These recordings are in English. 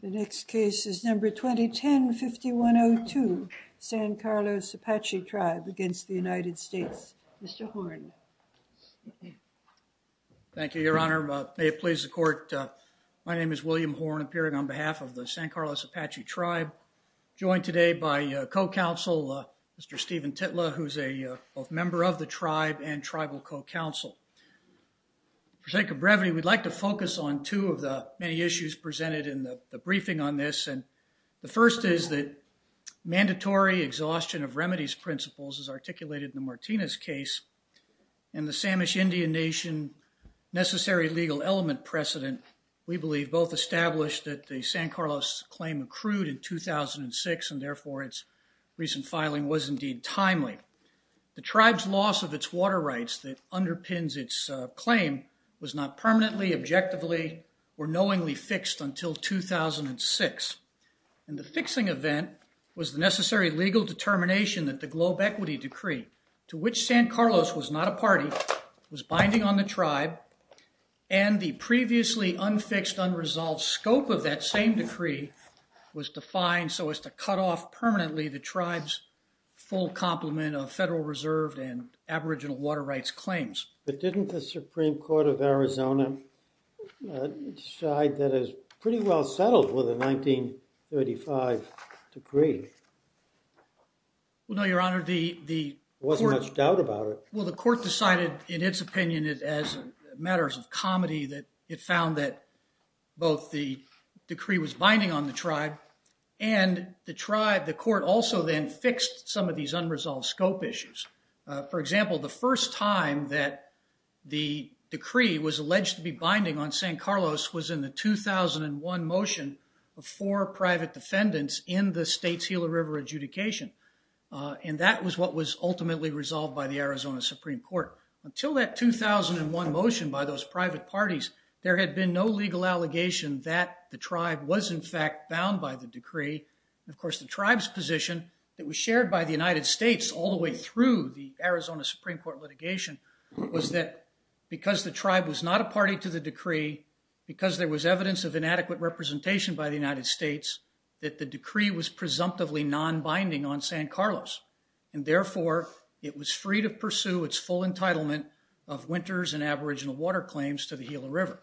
5102, San Carlos Apache Tribe v. United States Mr. Horne Thank you Your Honor, may it please the Court, my name is William Horne, appearing on behalf of the San Carlos Apache Tribe. I'm joined today by co-counsel, Mr. Steven Titla, who's a member of the tribe and tribal co-counsel. For sake of brevity, we'd like to focus on two of the many issues presented in the briefing on this. And the first is that mandatory exhaustion of remedies principles, as articulated in the Martinez case, and the Samish Indian Nation necessary legal element precedent, we believe both established that the San Carlos claim accrued in 2006 and therefore its recent filing was indeed timely. The tribe's loss of its water rights that underpins its claim was not permanently, objectively, or knowingly fixed until 2006. And the fixing event was the necessary legal determination that the Globe Equity Decree, to which San Carlos was not a party, was binding on the tribe, and the previously unfixed unresolved scope of that same decree was defined so as to cut off permanently the tribe's full complement of Federal Reserve and aboriginal water rights claims. But didn't the Supreme Court of Arizona decide that it's pretty well settled with a 1935 decree? Well, no, Your Honor, the court... There wasn't much doubt about it. Well, the court decided, in its opinion, as matters of comedy, that it found that both the decree was binding on the tribe and the tribe, the court also then fixed some of these unresolved scope issues. For example, the first time that the decree was alleged to be binding on San Carlos was in the 2001 motion before private defendants in the state's Gila River adjudication. And that was what was ultimately resolved by the Arizona Supreme Court. Until that 2001 motion by those private parties, there had been no legal allegation that the tribe was, in fact, bound by the decree. And of course, the tribe's position that was shared by the United States all the way through the Arizona Supreme Court litigation was that because the tribe was not a party to the decree, because there was evidence of inadequate representation by the United States, that the decree was binding on San Carlos. And therefore, it was free to pursue its full entitlement of winters and aboriginal water claims to the Gila River.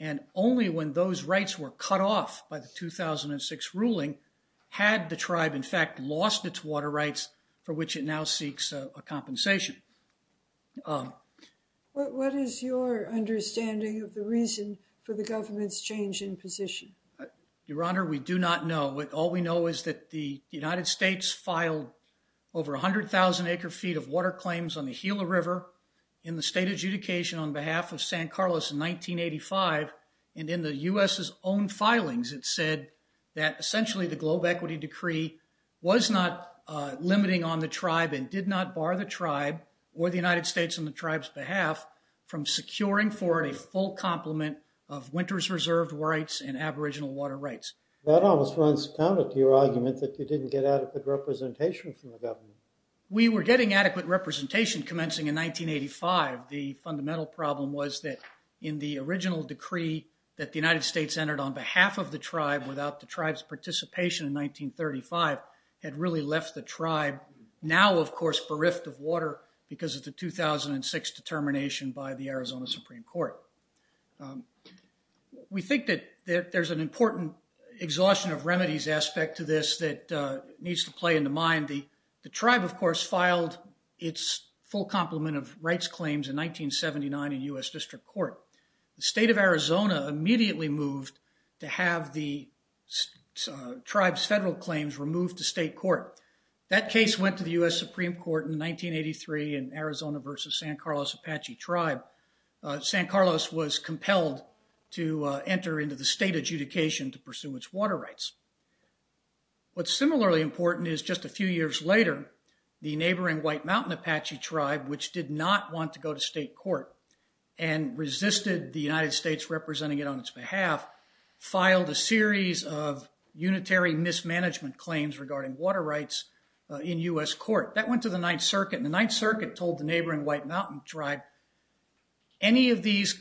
And only when those rights were cut off by the 2006 ruling had the tribe, in fact, lost its water rights, for which it now seeks a compensation. What is your understanding of the reason for the government's change in position? Your Honor, we do not know. All we know is that the United States filed over 100,000 acre-feet of water claims on the Gila River in the state adjudication on behalf of San Carlos in 1985. And in the U.S.'s own filings, it said that essentially the Globe Equity Decree was not limiting on the tribe and did not bar the tribe or the United States on the tribe's behalf from securing for it a full complement of winters reserved rights and aboriginal water rights. That almost runs counter to your argument that you didn't get adequate representation from the government. We were getting adequate representation commencing in 1985. The fundamental problem was that in the original decree that the United States entered on behalf of the tribe without the tribe's participation in 1935 had really left the tribe, now of course, bereft of water because of the 2006 determination by the Arizona Supreme Court. We think that there's an important exhaustion of remedies aspect to this that needs to play into mind. The tribe, of course, filed its full complement of rights claims in 1979 in U.S. District Court. The state of Arizona immediately moved to have the tribe's federal claims removed to state court. That case went to the U.S. Supreme Court in 1983 in Arizona versus San Carlos Apache Tribe. San Carlos was compelled to enter into the state adjudication to pursue its water rights. What's similarly important is just a few years later, the neighboring White Mountain Apache Tribe, which did not want to go to state court and resisted the United States representing it on its behalf, filed a series of unitary mismanagement claims regarding water rights in U.S. court. That went to the Ninth Circuit. The Ninth Circuit told the neighboring White Mountain tribe, any of these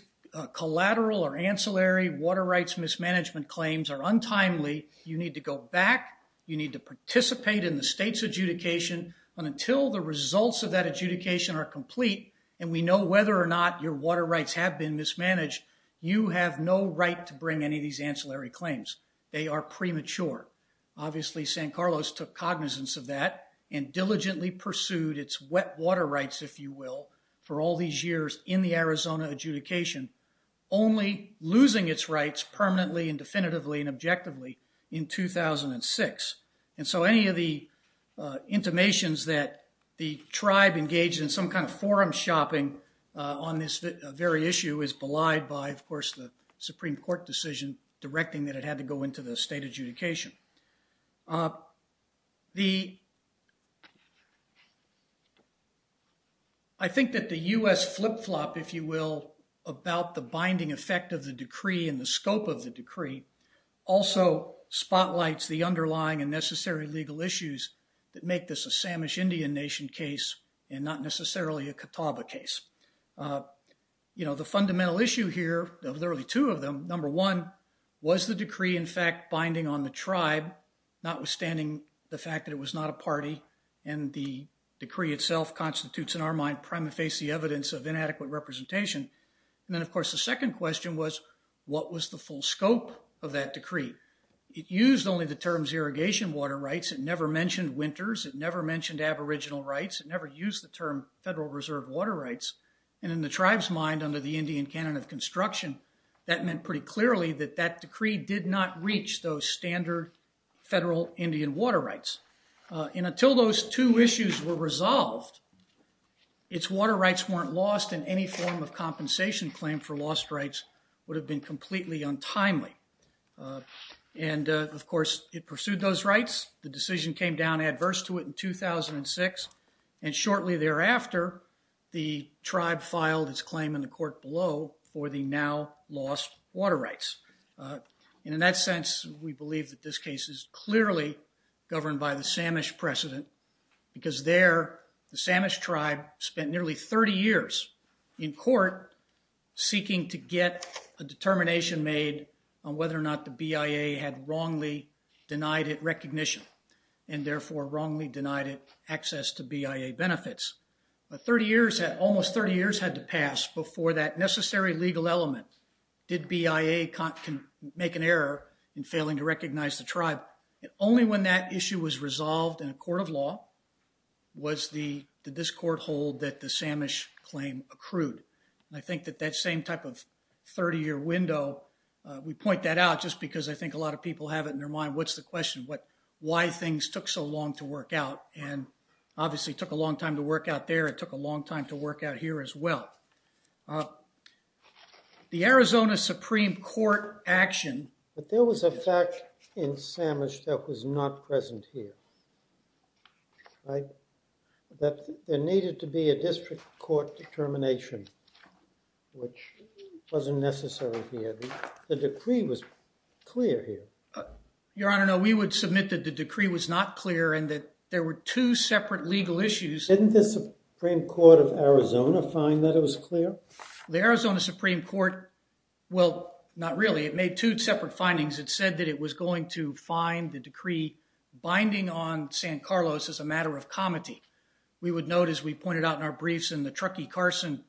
collateral or ancillary water rights mismanagement claims are untimely. You need to go back. You need to participate in the state's adjudication. Until the results of that adjudication are complete and we know whether or not your water rights have been mismanaged, you have no right to bring any of these ancillary claims. They are premature. Obviously, San Carlos took cognizance of that and diligently pursued its wet water rights, if you will, for all these years in the Arizona adjudication, only losing its rights permanently and definitively and objectively in 2006. So any of the intimations that the tribe engaged in some kind of forum shopping on this very issue is belied by, of course, the Supreme Court decision directing that it had to go into the state adjudication. I think that the U.S. flip-flop, if you will, about the binding effect of the decree and the scope of the decree also spotlights the underlying and necessary legal issues that make this a Samish Indian Nation case and not necessarily a Catawba case. You know, the fundamental issue here of the early two of them, number one, was the decree in fact binding on the tribe, notwithstanding the fact that it was not a party and the decree itself constitutes in our mind prima facie evidence of inadequate representation? And then, of course, the second question was, what was the full scope of that decree? It used only the terms irrigation water rights, it never mentioned winters, it never mentioned aboriginal rights, it never used the term federal reserve water rights, and in the tribe's mind under the Indian canon of construction, that meant pretty clearly that that decree did not reach those standard federal Indian water rights. And until those two issues were resolved, its water rights weren't lost and any form of compensation claim for lost rights would have been completely untimely. And, of course, it pursued those rights, the decision came down adverse to it in 2006, and shortly thereafter, the tribe filed its claim in the court below for the now lost water rights. And in that sense, we believe that this case is clearly governed by the Samish precedent because there the Samish tribe spent nearly 30 years in court seeking to get a determination made on whether or not the BIA had wrongly denied it recognition and, therefore, wrongly denied it access to BIA benefits. But almost 30 years had to pass before that necessary legal element, did BIA make an error in failing to recognize the tribe. Only when that issue was resolved in a court of law was the discord hold that the Samish claim accrued. I think that that same type of 30-year window, we point that out just because I think a lot of people have it in their mind, what's the question? Why things took so long to work out? And obviously, it took a long time to work out there, it took a long time to work out here as well. The Arizona Supreme Court action, but there was a fact in Samish that was not present here, that there needed to be a district court determination, which wasn't necessary here. The decree was clear here. Your Honor, no, we would submit that the decree was not clear and that there were two separate legal issues. Didn't the Supreme Court of Arizona find that it was clear? The Arizona Supreme Court, well, not really, it made two separate findings. It said that it was going to find the decree binding on San Carlos as a matter of comity. We would note, as we pointed out in our briefs in the Truckee-Carson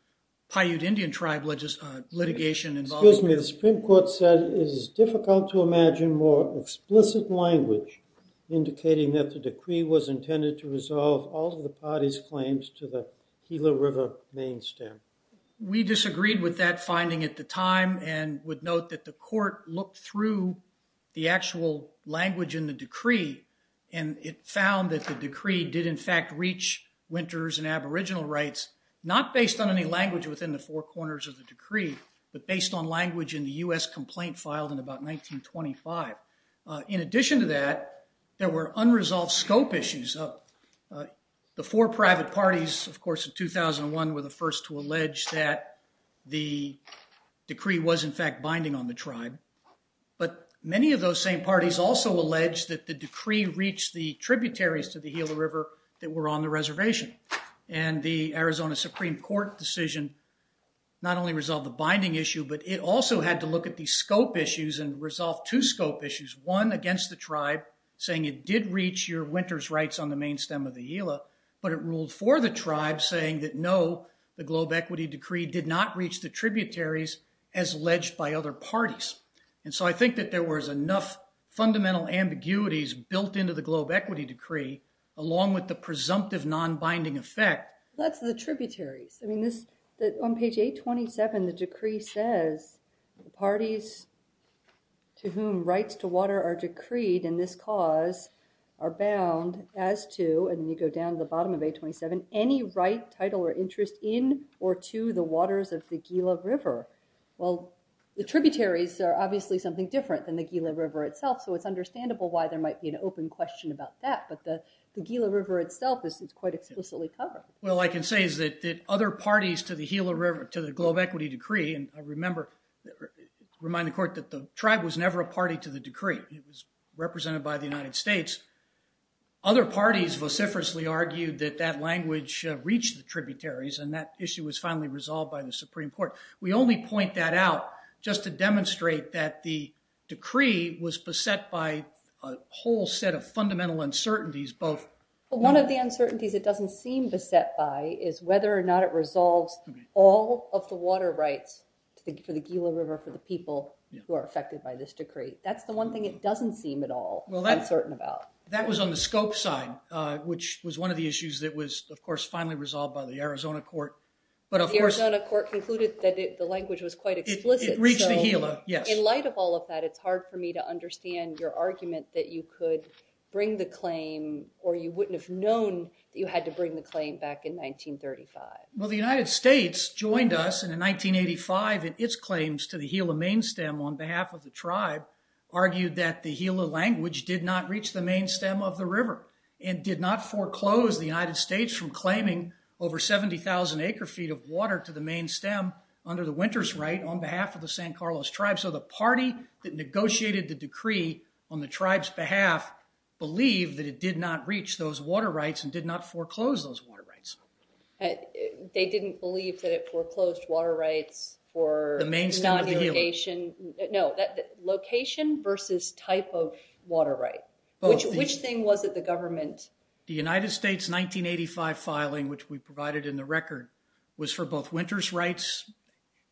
Paiute Indian tribe litigation. Excuse me. The Supreme Court said it is difficult to imagine more explicit language indicating that the decree was intended to resolve all of the parties' claims to the Gila River main stem. We disagreed with that finding at the time and would note that the court looked through the actual language in the decree and it found that the decree did in fact reach winters and aboriginal rights, not based on any language within the four corners of the decree, but based on language in the U.S. complaint filed in about 1925. In addition to that, there were unresolved scope issues. The four private parties, of course, in 2001 were the first to allege that the decree was in fact binding on the tribe, but many of those same parties also alleged that the decree reached the tributaries to the Gila River that were on the reservation. The Arizona Supreme Court decision not only resolved the binding issue, but it also had to look at the scope issues and resolve two scope issues, one against the tribe saying it did reach your winter's rights on the main stem of the Gila, but it ruled for the tribe saying that no, the globe equity decree did not reach the tributaries as alleged by other parties. And so I think that there was enough fundamental ambiguities built into the globe equity decree along with the presumptive non-binding effect. That's the tributaries. I mean, on page 827, the decree says the parties to whom rights to water are decreed in this cause are bound as to, and you go down to the bottom of 827, any right, title, or interest in or to the waters of the Gila River. Well, the tributaries are obviously something different than the Gila River itself, so it's understandable why there might be an open question about that, but the Gila River itself is quite explicitly covered. Well, I can say is that other parties to the Gila River, to the globe equity decree, and I remember, remind the court that the tribe was never a party to the decree. It was represented by the United States. Other parties vociferously argued that that language reached the tributaries and that issue was finally resolved by the Supreme Court. We only point that out just to demonstrate that the decree was beset by a whole set of fundamental uncertainties, both... The only thing that was beset by is whether or not it resolves all of the water rights for the Gila River, for the people who are affected by this decree. That's the one thing it doesn't seem at all uncertain about. That was on the scope side, which was one of the issues that was, of course, finally resolved by the Arizona court, but of course... The Arizona court concluded that the language was quite explicit, so... It reached the Gila, yes. In light of all of that, it's hard for me to understand your argument that you could bring the claim, or you wouldn't have known that you had to bring the claim back in 1935. Well, the United States joined us in 1985 in its claims to the Gila main stem on behalf of the tribe, argued that the Gila language did not reach the main stem of the river and did not foreclose the United States from claiming over 70,000 acre feet of water to the main stem under the Winters' right on behalf of the San Carlos tribe, so the party that negotiated the decree on the tribe's behalf believed that it did not reach those water rights and did not foreclose those water rights. They didn't believe that it foreclosed water rights for... The main stem of the Gila. Non-irrigation... No, location versus type of water right. Which thing was it the government... The United States 1985 filing, which we provided in the record, was for both Winters' rights,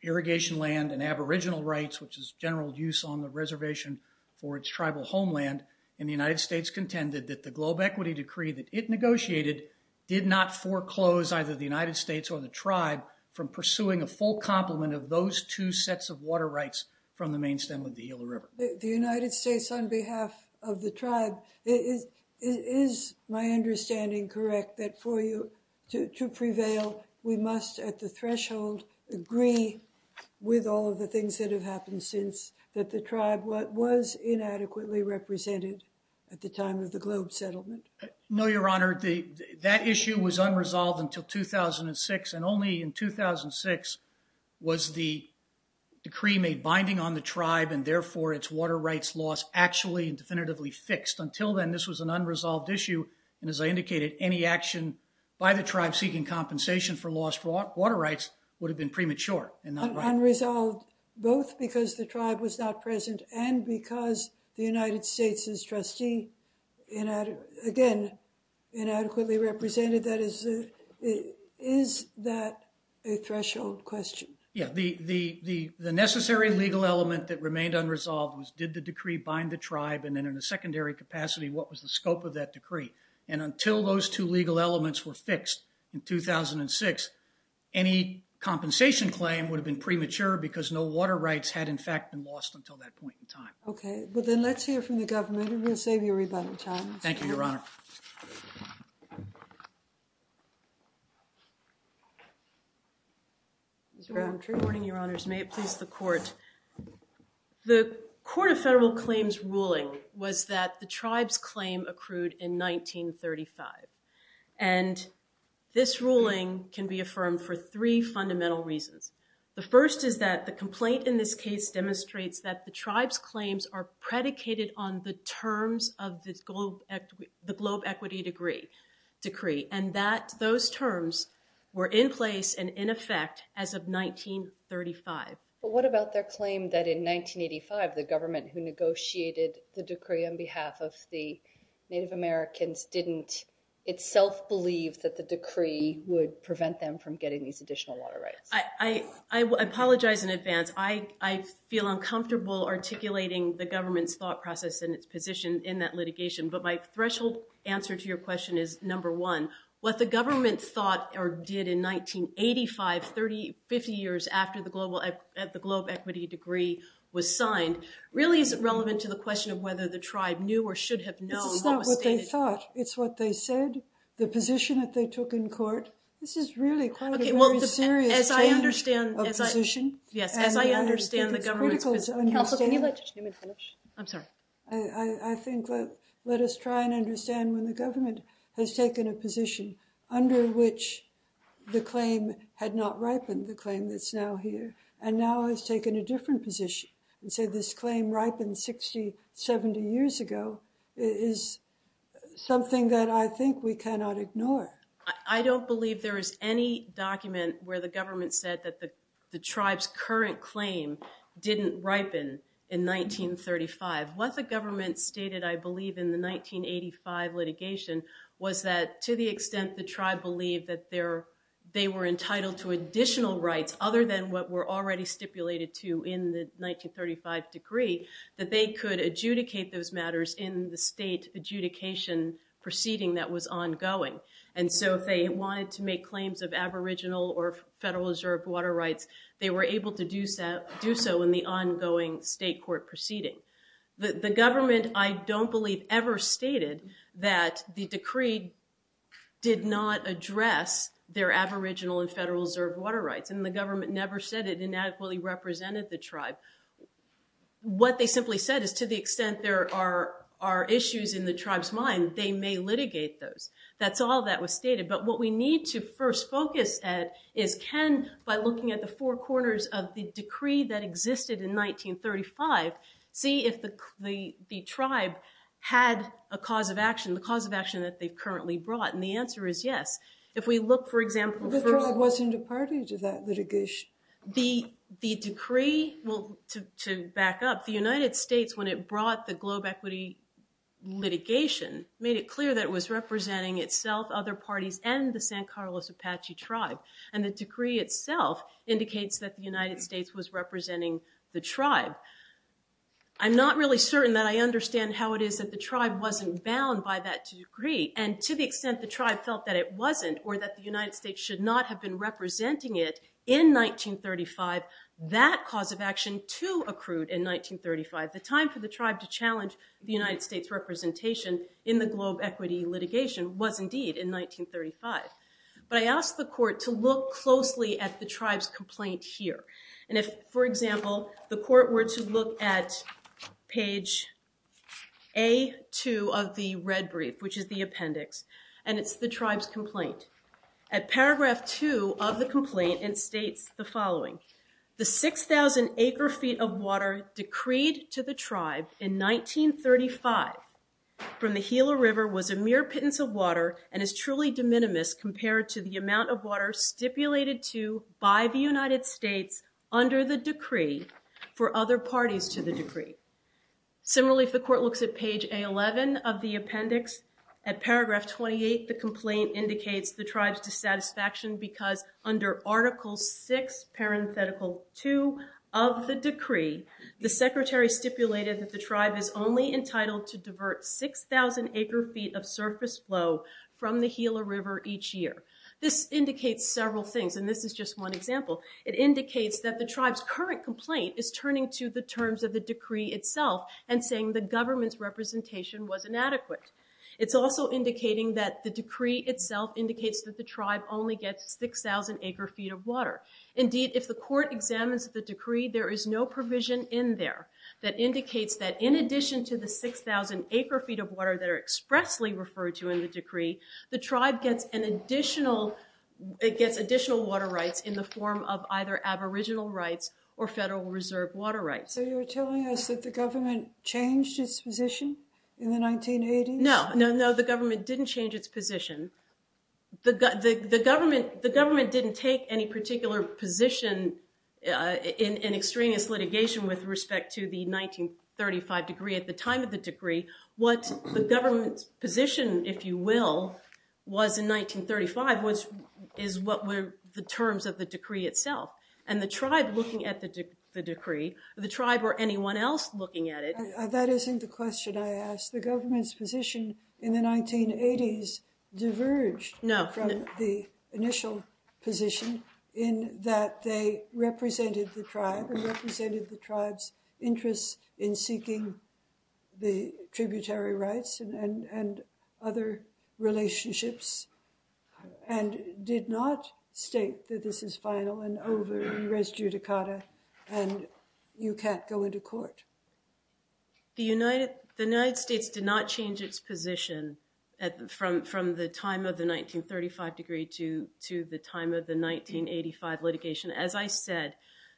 irrigation land and aboriginal rights, which is general use on the reservation for its tribal homeland, and the United States contended that the globe equity decree that it negotiated did not foreclose either the United States or the tribe from pursuing a full complement of those two sets of water rights from the main stem of the Gila River. The United States on behalf of the tribe, is my understanding correct that for you to agree with all of the things that have happened since that the tribe what was inadequately represented at the time of the globe settlement? No, your honor. That issue was unresolved until 2006, and only in 2006 was the decree made binding on the tribe and therefore its water rights laws actually and definitively fixed. Until then, this was an unresolved issue, and as I indicated, any action by the tribe seeking compensation for lost water rights would have been premature and not right. Unresolved both because the tribe was not present and because the United States' trustee, again, inadequately represented, that is... Is that a threshold question? Yeah. The necessary legal element that remained unresolved was did the decree bind the tribe and then in a secondary capacity, what was the scope of that decree? And until those two legal elements were fixed in 2006, any compensation claim would have been premature because no water rights had in fact been lost until that point in time. Okay. Well, then let's hear from the government and we'll save you a rebuttal time. Thank you, your honor. Ms. Rowland. Good morning, your honors. May it please the court. The Court of Federal Claims ruling was that the tribe's claim accrued in 1935, and this ruling can be affirmed for three fundamental reasons. The first is that the complaint in this case demonstrates that the tribe's claims are predicated on the terms of the globe equity decree, and that those terms were in place and in effect as of 1935. But what about their claim that in 1985, the government who negotiated the decree on behalf of the Native Americans didn't itself believe that the decree would prevent them from getting these additional water rights? I apologize in advance. I feel uncomfortable articulating the government's thought process and its position in that litigation, but my threshold answer to your question is number one. What the government thought or did in 1985, 30, 50 years after the globe equity decree was signed, really isn't relevant to the question of whether the tribe knew or should have known what was stated. This is not what they thought. It's what they said. The position that they took in court. This is really quite a very serious change of position, and I think it's critical to understand. Counselor, can you let Judge Newman finish? I'm sorry. I think let us try and understand when the government has taken a position under which the claim had not ripened, the claim that's now here, and now has taken a different position and said this claim ripened 60, 70 years ago is something that I think we cannot ignore. I don't believe there is any document where the government said that the tribe's current claim didn't ripen in 1935. What the government stated, I believe, in the 1985 litigation was that to the extent the tribe believed that they were entitled to additional rights other than what were already stipulated to in the 1935 decree, that they could adjudicate those matters in the state adjudication proceeding that was ongoing, and so if they wanted to make claims of aboriginal or federal reserve water rights, they were able to do so in the ongoing state court proceeding. The government, I don't believe, ever stated that the decree did not address their aboriginal and federal reserve water rights, and the government never said it inadequately represented the tribe. What they simply said is to the extent there are issues in the tribe's mind, they may litigate those. That's all that was stated, but what we need to first focus at is can, by looking at the four corners of the decree that existed in 1935, see if the tribe had a cause of action, the cause of action that they've currently brought, and the answer is yes. If we look, for example- But the tribe wasn't a party to that litigation. The decree, to back up, the United States, when it brought the globe equity litigation, made it clear that it was representing itself, other parties, and the San Carlos Apache tribe, and the decree itself indicates that the United States was representing the tribe. I'm not really certain that I understand how it is that the tribe wasn't bound by that decree, and to the extent the tribe felt that it wasn't, or that the United States should not have been representing it in 1935, that cause of action, too, accrued in 1935. The time for the tribe to challenge the United States' representation in the globe equity litigation was indeed in 1935. But I asked the court to look closely at the tribe's complaint here, and if, for example, the court were to look at page A2 of the red brief, which is the appendix, and it's the tribe's complaint. At paragraph two of the complaint, it states the following, the 6,000 acre feet of water decreed to the tribe in 1935 from the Gila River was a mere pittance of water and is compared to the amount of water stipulated to by the United States under the decree for other parties to the decree. Similarly, if the court looks at page A11 of the appendix, at paragraph 28, the complaint indicates the tribe's dissatisfaction because under article six, parenthetical two, of the decree, the secretary stipulated that the tribe is only entitled to divert 6,000 acre feet of surface flow from the Gila River each year. This indicates several things, and this is just one example. It indicates that the tribe's current complaint is turning to the terms of the decree itself and saying the government's representation was inadequate. It's also indicating that the decree itself indicates that the tribe only gets 6,000 acre feet of water. Indeed, if the court examines the decree, there is no provision in there that indicates that in addition to the 6,000 acre feet of water that are expressly referred to in the decree, the tribe gets additional water rights in the form of either aboriginal rights or federal reserve water rights. So you're telling us that the government changed its position in the 1980s? No, no, no. The government didn't change its position. The government didn't take any particular position in extraneous litigation with respect to the 1935 decree. At the time of the decree, what the government's position, if you will, was in 1935 is what were the terms of the decree itself. And the tribe looking at the decree, the tribe or anyone else looking at it— That isn't the question I asked. The government's position in the 1980s diverged from the initial position in that they represented the tribe and represented the tribe's interests in seeking the tributary rights and other relationships, and did not state that this is final and over, res judicata, and you can't go into court. The United States did not change its position from the time of the 1935 decree to the time of the 1985 litigation. As I said,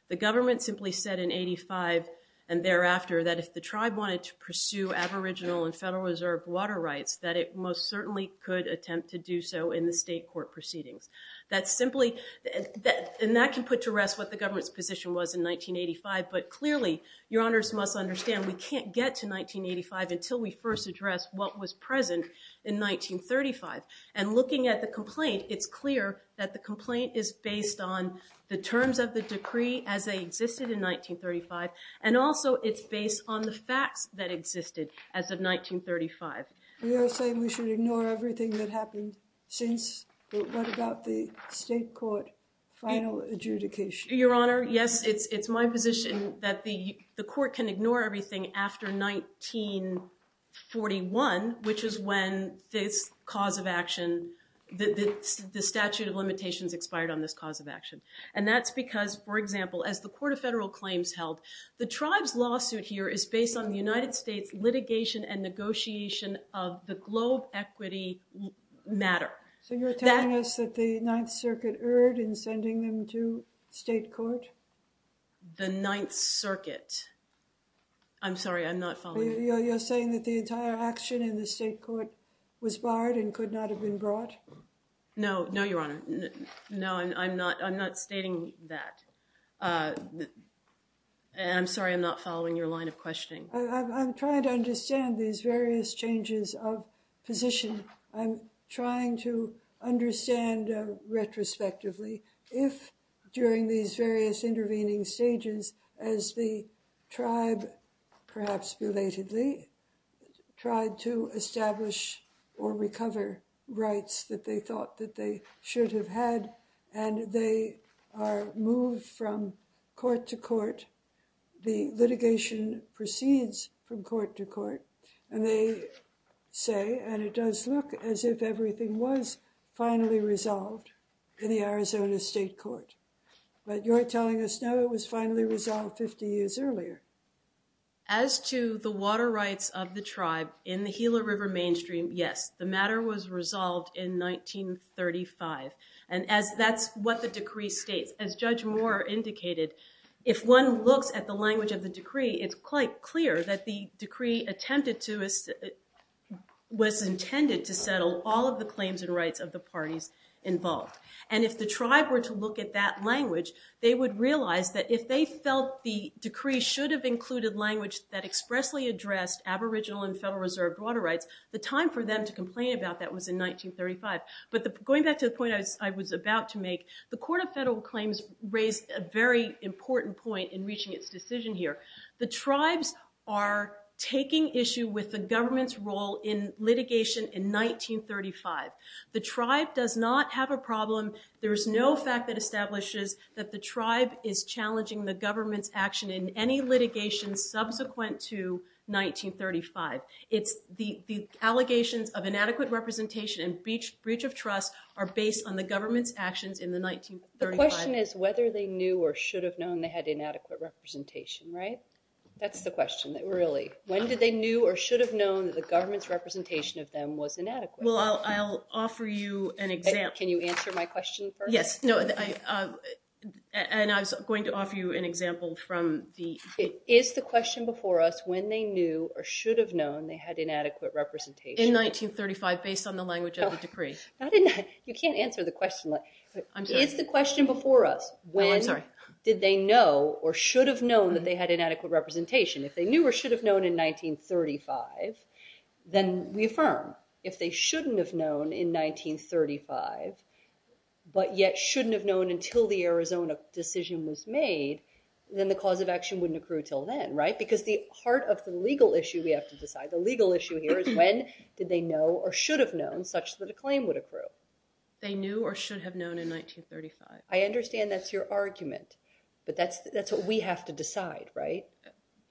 the government simply said in 1985 and thereafter that if the tribe wanted to pursue aboriginal and Federal Reserve water rights, that it most certainly could attempt to do so in the state court proceedings. That's simply—and that can put to rest what the government's position was in 1985, but clearly, your honors must understand, we can't get to 1985 until we first address what was present in 1935. And looking at the complaint, it's clear that the complaint is based on the terms of the decree as they existed in 1935, and also it's based on the facts that existed as of 1935. You're saying we should ignore everything that happened since—what about the state court final adjudication? Your honor, yes, it's my position that the court can ignore everything after 1941, which is when this cause of action—the statute of limitations expired on this cause of action. And that's because, for example, as the Court of Federal Claims held, the tribe's lawsuit here is based on the United States litigation and negotiation of the globe equity matter. So you're telling us that the Ninth Circuit erred in sending them to state court? The Ninth Circuit. I'm sorry, I'm not following. You're saying that the entire action in the state court was barred and could not have been brought? No, no, your honor. No, I'm not stating that. I'm sorry, I'm not following your line of questioning. I'm trying to understand these various changes of position. I'm trying to understand retrospectively if during these various intervening stages as the tribe, perhaps belatedly, tried to establish or recover rights that they thought that they should have had, and they are moved from court to court, the litigation proceeds from court to court, and they say—and it does look as if everything was finally resolved in the Arizona state court. But you're telling us, no, it was finally resolved 50 years earlier. As to the water rights of the tribe in the Gila River mainstream, yes, the matter was resolved in 1935, and that's what the decree states. As Judge Moore indicated, if one looks at the language of the decree, it's quite clear that the decree attempted to—was intended to settle all of the claims and rights of the parties involved. And if the tribe were to look at that language, they would realize that if they felt the decree should have included language that expressly addressed aboriginal and Federal Reserve water rights, the time for them to complain about that was in 1935. But going back to the point I was about to make, the Court of Federal Claims raised a very important point in reaching its decision here. The tribes are taking issue with the government's role in litigation in 1935. The tribe does not have a problem. There is no fact that establishes that the tribe is challenging the government's action in any litigation subsequent to 1935. It's the allegations of inadequate representation and breach of trust are based on the government's actions in the 1935— The question is whether they knew or should have known they had inadequate representation, right? That's the question, really. When did they knew or should have known that the government's representation of them was inadequate? Well, I'll offer you an example. Can you answer my question first? Yes. No, and I was going to offer you an example from the— Is the question before us, when they knew or should have known they had inadequate representation— In 1935, based on the language of the decree. You can't answer the question like that. I'm sorry. Is the question before us, when did they know or should have known that they had inadequate representation? If they knew or should have known in 1935, then we affirm. If they shouldn't have known in 1935, but yet shouldn't have known until the Arizona decision was made, then the cause of action wouldn't accrue until then, right? Because the heart of the legal issue we have to decide, the legal issue here is when did they know or should have known such that a claim would accrue? They knew or should have known in 1935. I understand that's your argument, but that's what we have to decide, right?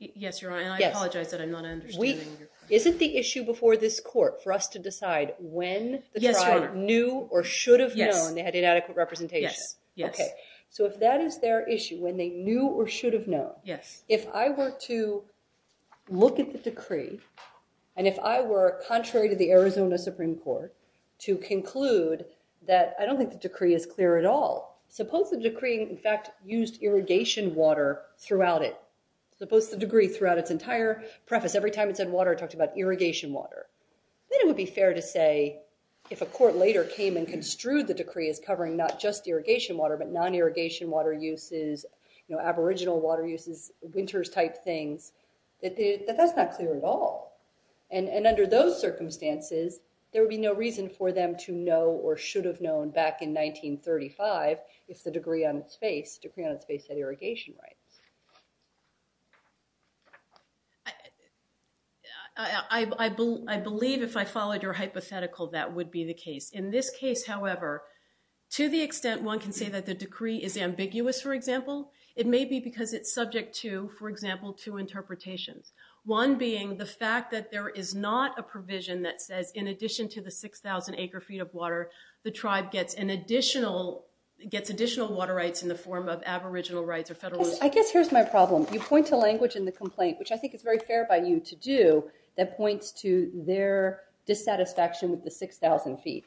Yes, Your Honor, and I apologize that I'm not understanding your question. Is it the issue before this court for us to decide when the tribe knew or should have known they had inadequate representation? Yes, yes. Okay. So if that is their issue, when they knew or should have known, if I were to look at the decree, and if I were, contrary to the Arizona Supreme Court, to conclude that— I don't think the decree is clear at all. Suppose the decree, in fact, used irrigation water throughout it. Suppose the decree throughout its entire preface, every time it said water, it talked about irrigation water. Then it would be fair to say if a court later came and construed the decree as covering not just irrigation water, but non-irrigation water uses, aboriginal water uses, winters type things, that that's not clear at all. And under those circumstances, there would be no reason for them to know or should have known back in 1935, if the decree on its face, decree on its face had irrigation rights. I believe if I followed your hypothetical, that would be the case. In this case, however, to the extent one can say that the decree is ambiguous, for example, it may be because it's subject to, for example, two interpretations. One being the fact that there is not a provision that says, in addition to the 6,000 acre-feet of water, the tribe gets additional water rights in the form of aboriginal rights or federal rights. I guess here's my problem. You point to language in the complaint, which I think is very fair by you to do, that points to their dissatisfaction with the 6,000 feet.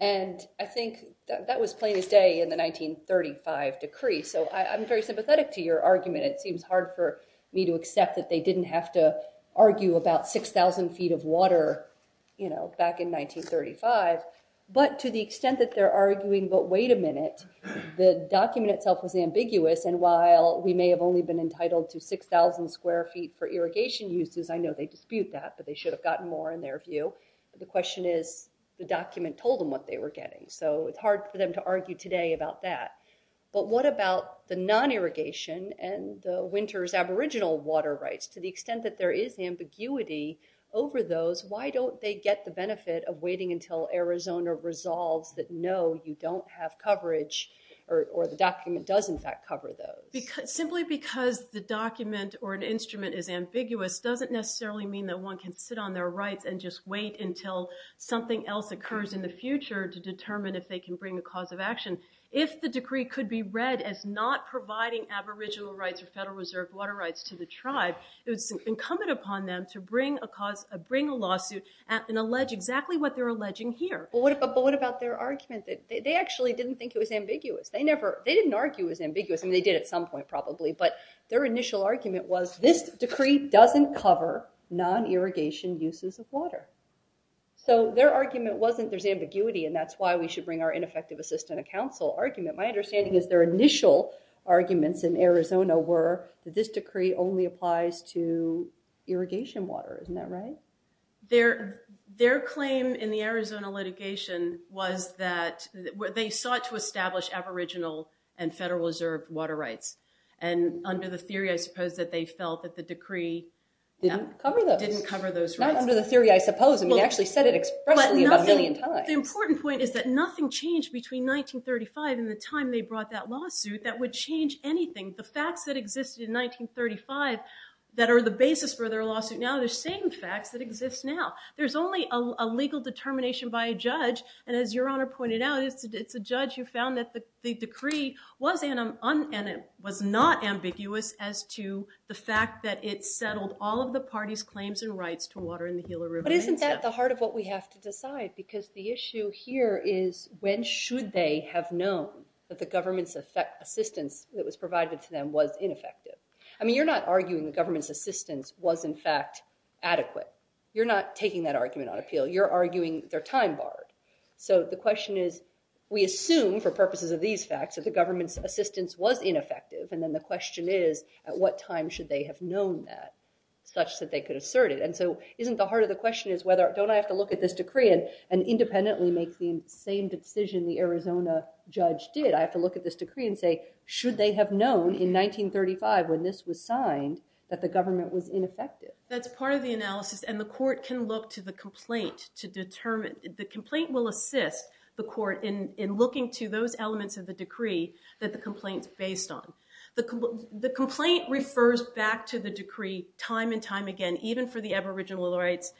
And I think that was plain as day in the 1935 decree. So I'm very sympathetic to your argument. It seems hard for me to accept that they didn't have to argue about 6,000 feet of water back in 1935. But to the extent that they're arguing, but wait a minute, the document itself was ambiguous. And while we may have only been entitled to 6,000 square feet for irrigation uses, I know they dispute that. But they should have gotten more in their view. The question is, the document told them what they were getting. So it's hard for them to argue today about that. But what about the non-irrigation and the winter's aboriginal water rights? To the extent that there is ambiguity over those, why don't they get the benefit of waiting until Arizona resolves that, no, you don't have coverage, or the document does, in fact, cover those? Simply because the document or an instrument is ambiguous doesn't necessarily mean that one can sit on their rights and just wait until something else occurs in the future to determine if they can bring a cause of action. If the decree could be read as not providing aboriginal rights or Federal Reserve water rights to the tribe, it was incumbent upon them to bring a lawsuit and allege exactly what they're alleging here. But what about their argument? They actually didn't think it was ambiguous. They didn't argue it was ambiguous. I mean, they did at some point, probably. But their initial argument was, this decree doesn't cover non-irrigation uses of water. So their argument wasn't, there's ambiguity, and that's why we should bring our ineffective assistant of counsel argument. My understanding is their initial arguments in Arizona were that this decree only applies to irrigation water. Isn't that right? Their claim in the Arizona litigation was that they sought to establish aboriginal and Federal Reserve water rights. And under the theory, I suppose, that they felt that the decree didn't cover those rights. Not under the theory, I suppose. I mean, they actually said it expressly about a million times. The important point is that nothing changed between 1935 and the time they brought that lawsuit that would change anything. The facts that existed in 1935 that are the basis for their lawsuit now are the same facts that exist now. There's only a legal determination by a judge. And as Your Honor pointed out, it's a judge who found that the decree was not ambiguous as to the fact that it settled all of the party's claims and rights to water in the Gila River. But isn't that the heart of what we have to decide? Because the issue here is, when should they have known that the government's assistance that was provided to them was ineffective? I mean, you're not arguing the government's assistance was, in fact, adequate. You're not taking that argument on appeal. You're arguing their time barred. So the question is, we assume, for purposes of these facts, that the government's assistance was ineffective. And then the question is, at what time should they have known that such that they could assert it? And so isn't the heart of the question is, don't I have to look at this decree and independently make the same decision the Arizona judge did? I have to look at this decree and say, should they have known in 1935 when this was signed that the government was ineffective? That's part of the analysis. And the court can look to the complaint to determine. The complaint will assist the court in looking to those elements of the decree that the complaint's based on. The complaint refers back to the decree time and time again, even for the aboriginal rights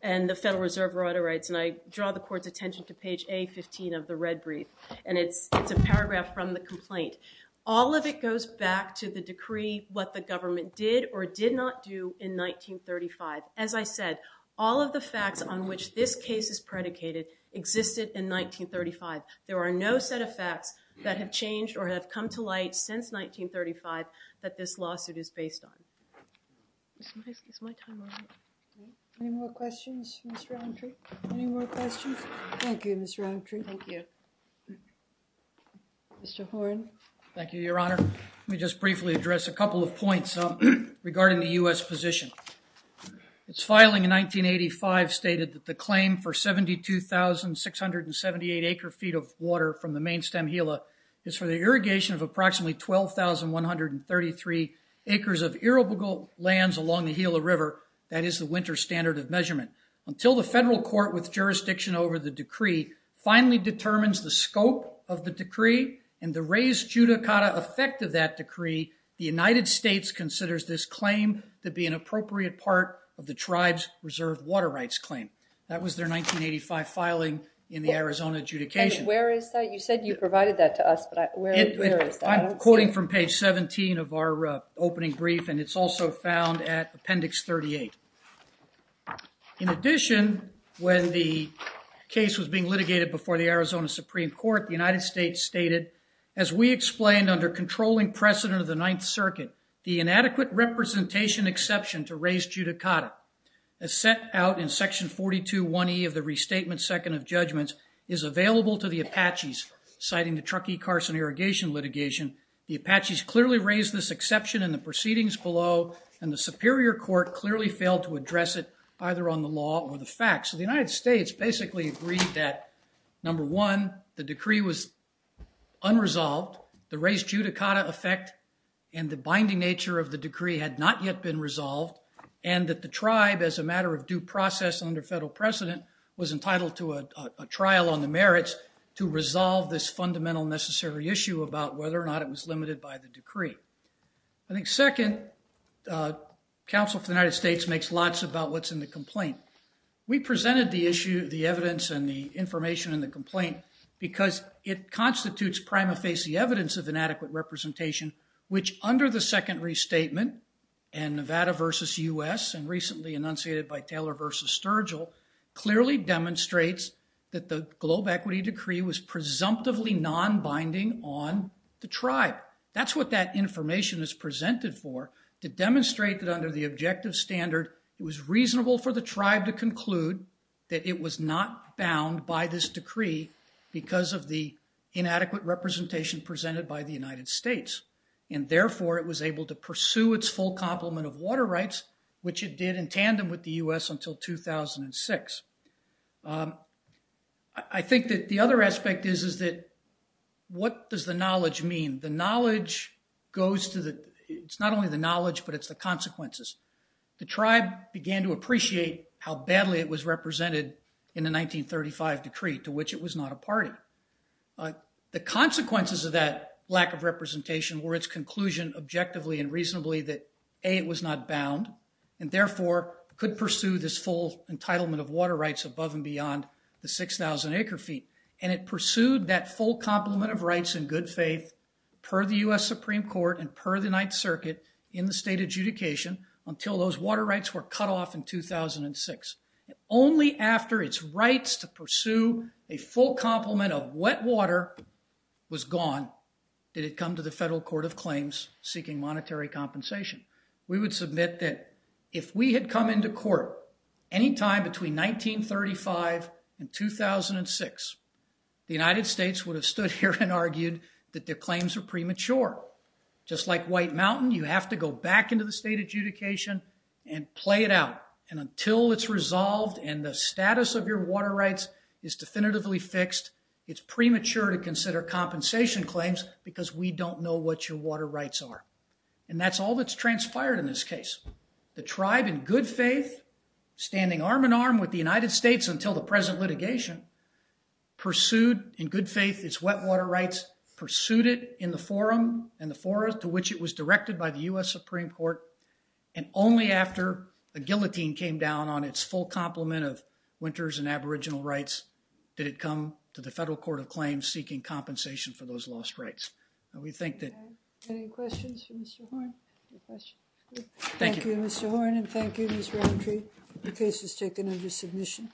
and the Federal Reserve right of rights. And I draw the court's attention to page A15 of the red brief. And it's a paragraph from the complaint. All of it goes back to the decree, what the government did or did not do in 1935. As I said, all of the facts on which this case is predicated existed in 1935. There are no set of facts that have changed or have come to light since 1935 that this lawsuit is based on. Any more questions for Mr. Elmtree? Any more questions? Thank you, Mr. Elmtree. Thank you. Mr. Horne. Thank you, Your Honor. Let me just briefly address a couple of points regarding the US position. Its filing in 1985 stated that the claim for 72,678 acre-feet of water from the main stem Gila is for the irrigation of approximately 12,133 acres of irrigable lands along the Gila River. That is the winter standard of measurement. Until the federal court with jurisdiction over the decree finally determines the scope of the decree and the res judicata effect of that decree, the United States considers this claim to be an appropriate part of the tribe's reserve water rights claim. That was their 1985 filing in the Arizona adjudication. And where is that? You said you provided that to us, but where is that? I'm quoting from page 17 of our opening brief, and it's also found at appendix 38. In addition, when the case was being litigated before the Arizona Supreme Court, the United States stated, as we explained under controlling precedent of the Ninth Circuit, the inadequate representation exception to res judicata as set out in section 42.1e of the restatement second of judgments is available to the Apaches, citing the Truckee Carson irrigation litigation. The Apaches clearly raised this exception in the proceedings below, and the Superior Court clearly failed to address it either on the law or the facts. So the United States basically agreed that, number one, the decree was unresolved. The res judicata effect and the binding nature of the decree had not yet been resolved, and that the tribe, as a matter of due process under federal precedent, was entitled to a trial on the merits to resolve this fundamental necessary issue about whether or not it was limited by the decree. I think, second, counsel for the United States makes lots about what's in the complaint. We presented the issue, the evidence, and the information in the complaint because it was evidence of inadequate representation, which under the second restatement, and Nevada versus U.S., and recently enunciated by Taylor versus Sturgill, clearly demonstrates that the globe equity decree was presumptively non-binding on the tribe. That's what that information is presented for, to demonstrate that under the objective standard, it was reasonable for the tribe to conclude that it was not bound by this by the United States, and therefore, it was able to pursue its full complement of water rights, which it did in tandem with the U.S. until 2006. I think that the other aspect is that, what does the knowledge mean? The knowledge goes to the, it's not only the knowledge, but it's the consequences. The tribe began to appreciate how badly it was represented in the 1935 decree, to which it was not a party. But the consequences of that lack of representation were its conclusion, objectively and reasonably, that A, it was not bound, and therefore, could pursue this full entitlement of water rights above and beyond the 6,000 acre feet, and it pursued that full complement of rights in good faith per the U.S. Supreme Court and per the Ninth Circuit in the state adjudication until those water rights were cut off in 2006. Only after its rights to pursue a full complement of wet water was gone did it come to the Federal Court of Claims seeking monetary compensation. We would submit that if we had come into court anytime between 1935 and 2006, the United States would have stood here and argued that their claims are premature. Just like White Mountain, you have to go back into the state adjudication and play it out. And until it's resolved and the status of your water rights is definitively fixed, it's premature to consider compensation claims because we don't know what your water rights are. And that's all that's transpired in this case. The tribe, in good faith, standing arm in arm with the United States until the present litigation, pursued in good faith its wet water rights, pursued it in the forum and to which it was directed by the U.S. Supreme Court. And only after the guillotine came down on its full complement of winters and aboriginal rights did it come to the Federal Court of Claims seeking compensation for those lost rights. And we think that... Any questions for Mr. Horne? Thank you, Mr. Horne. And thank you, Ms. Rowntree. The case is taken under submission.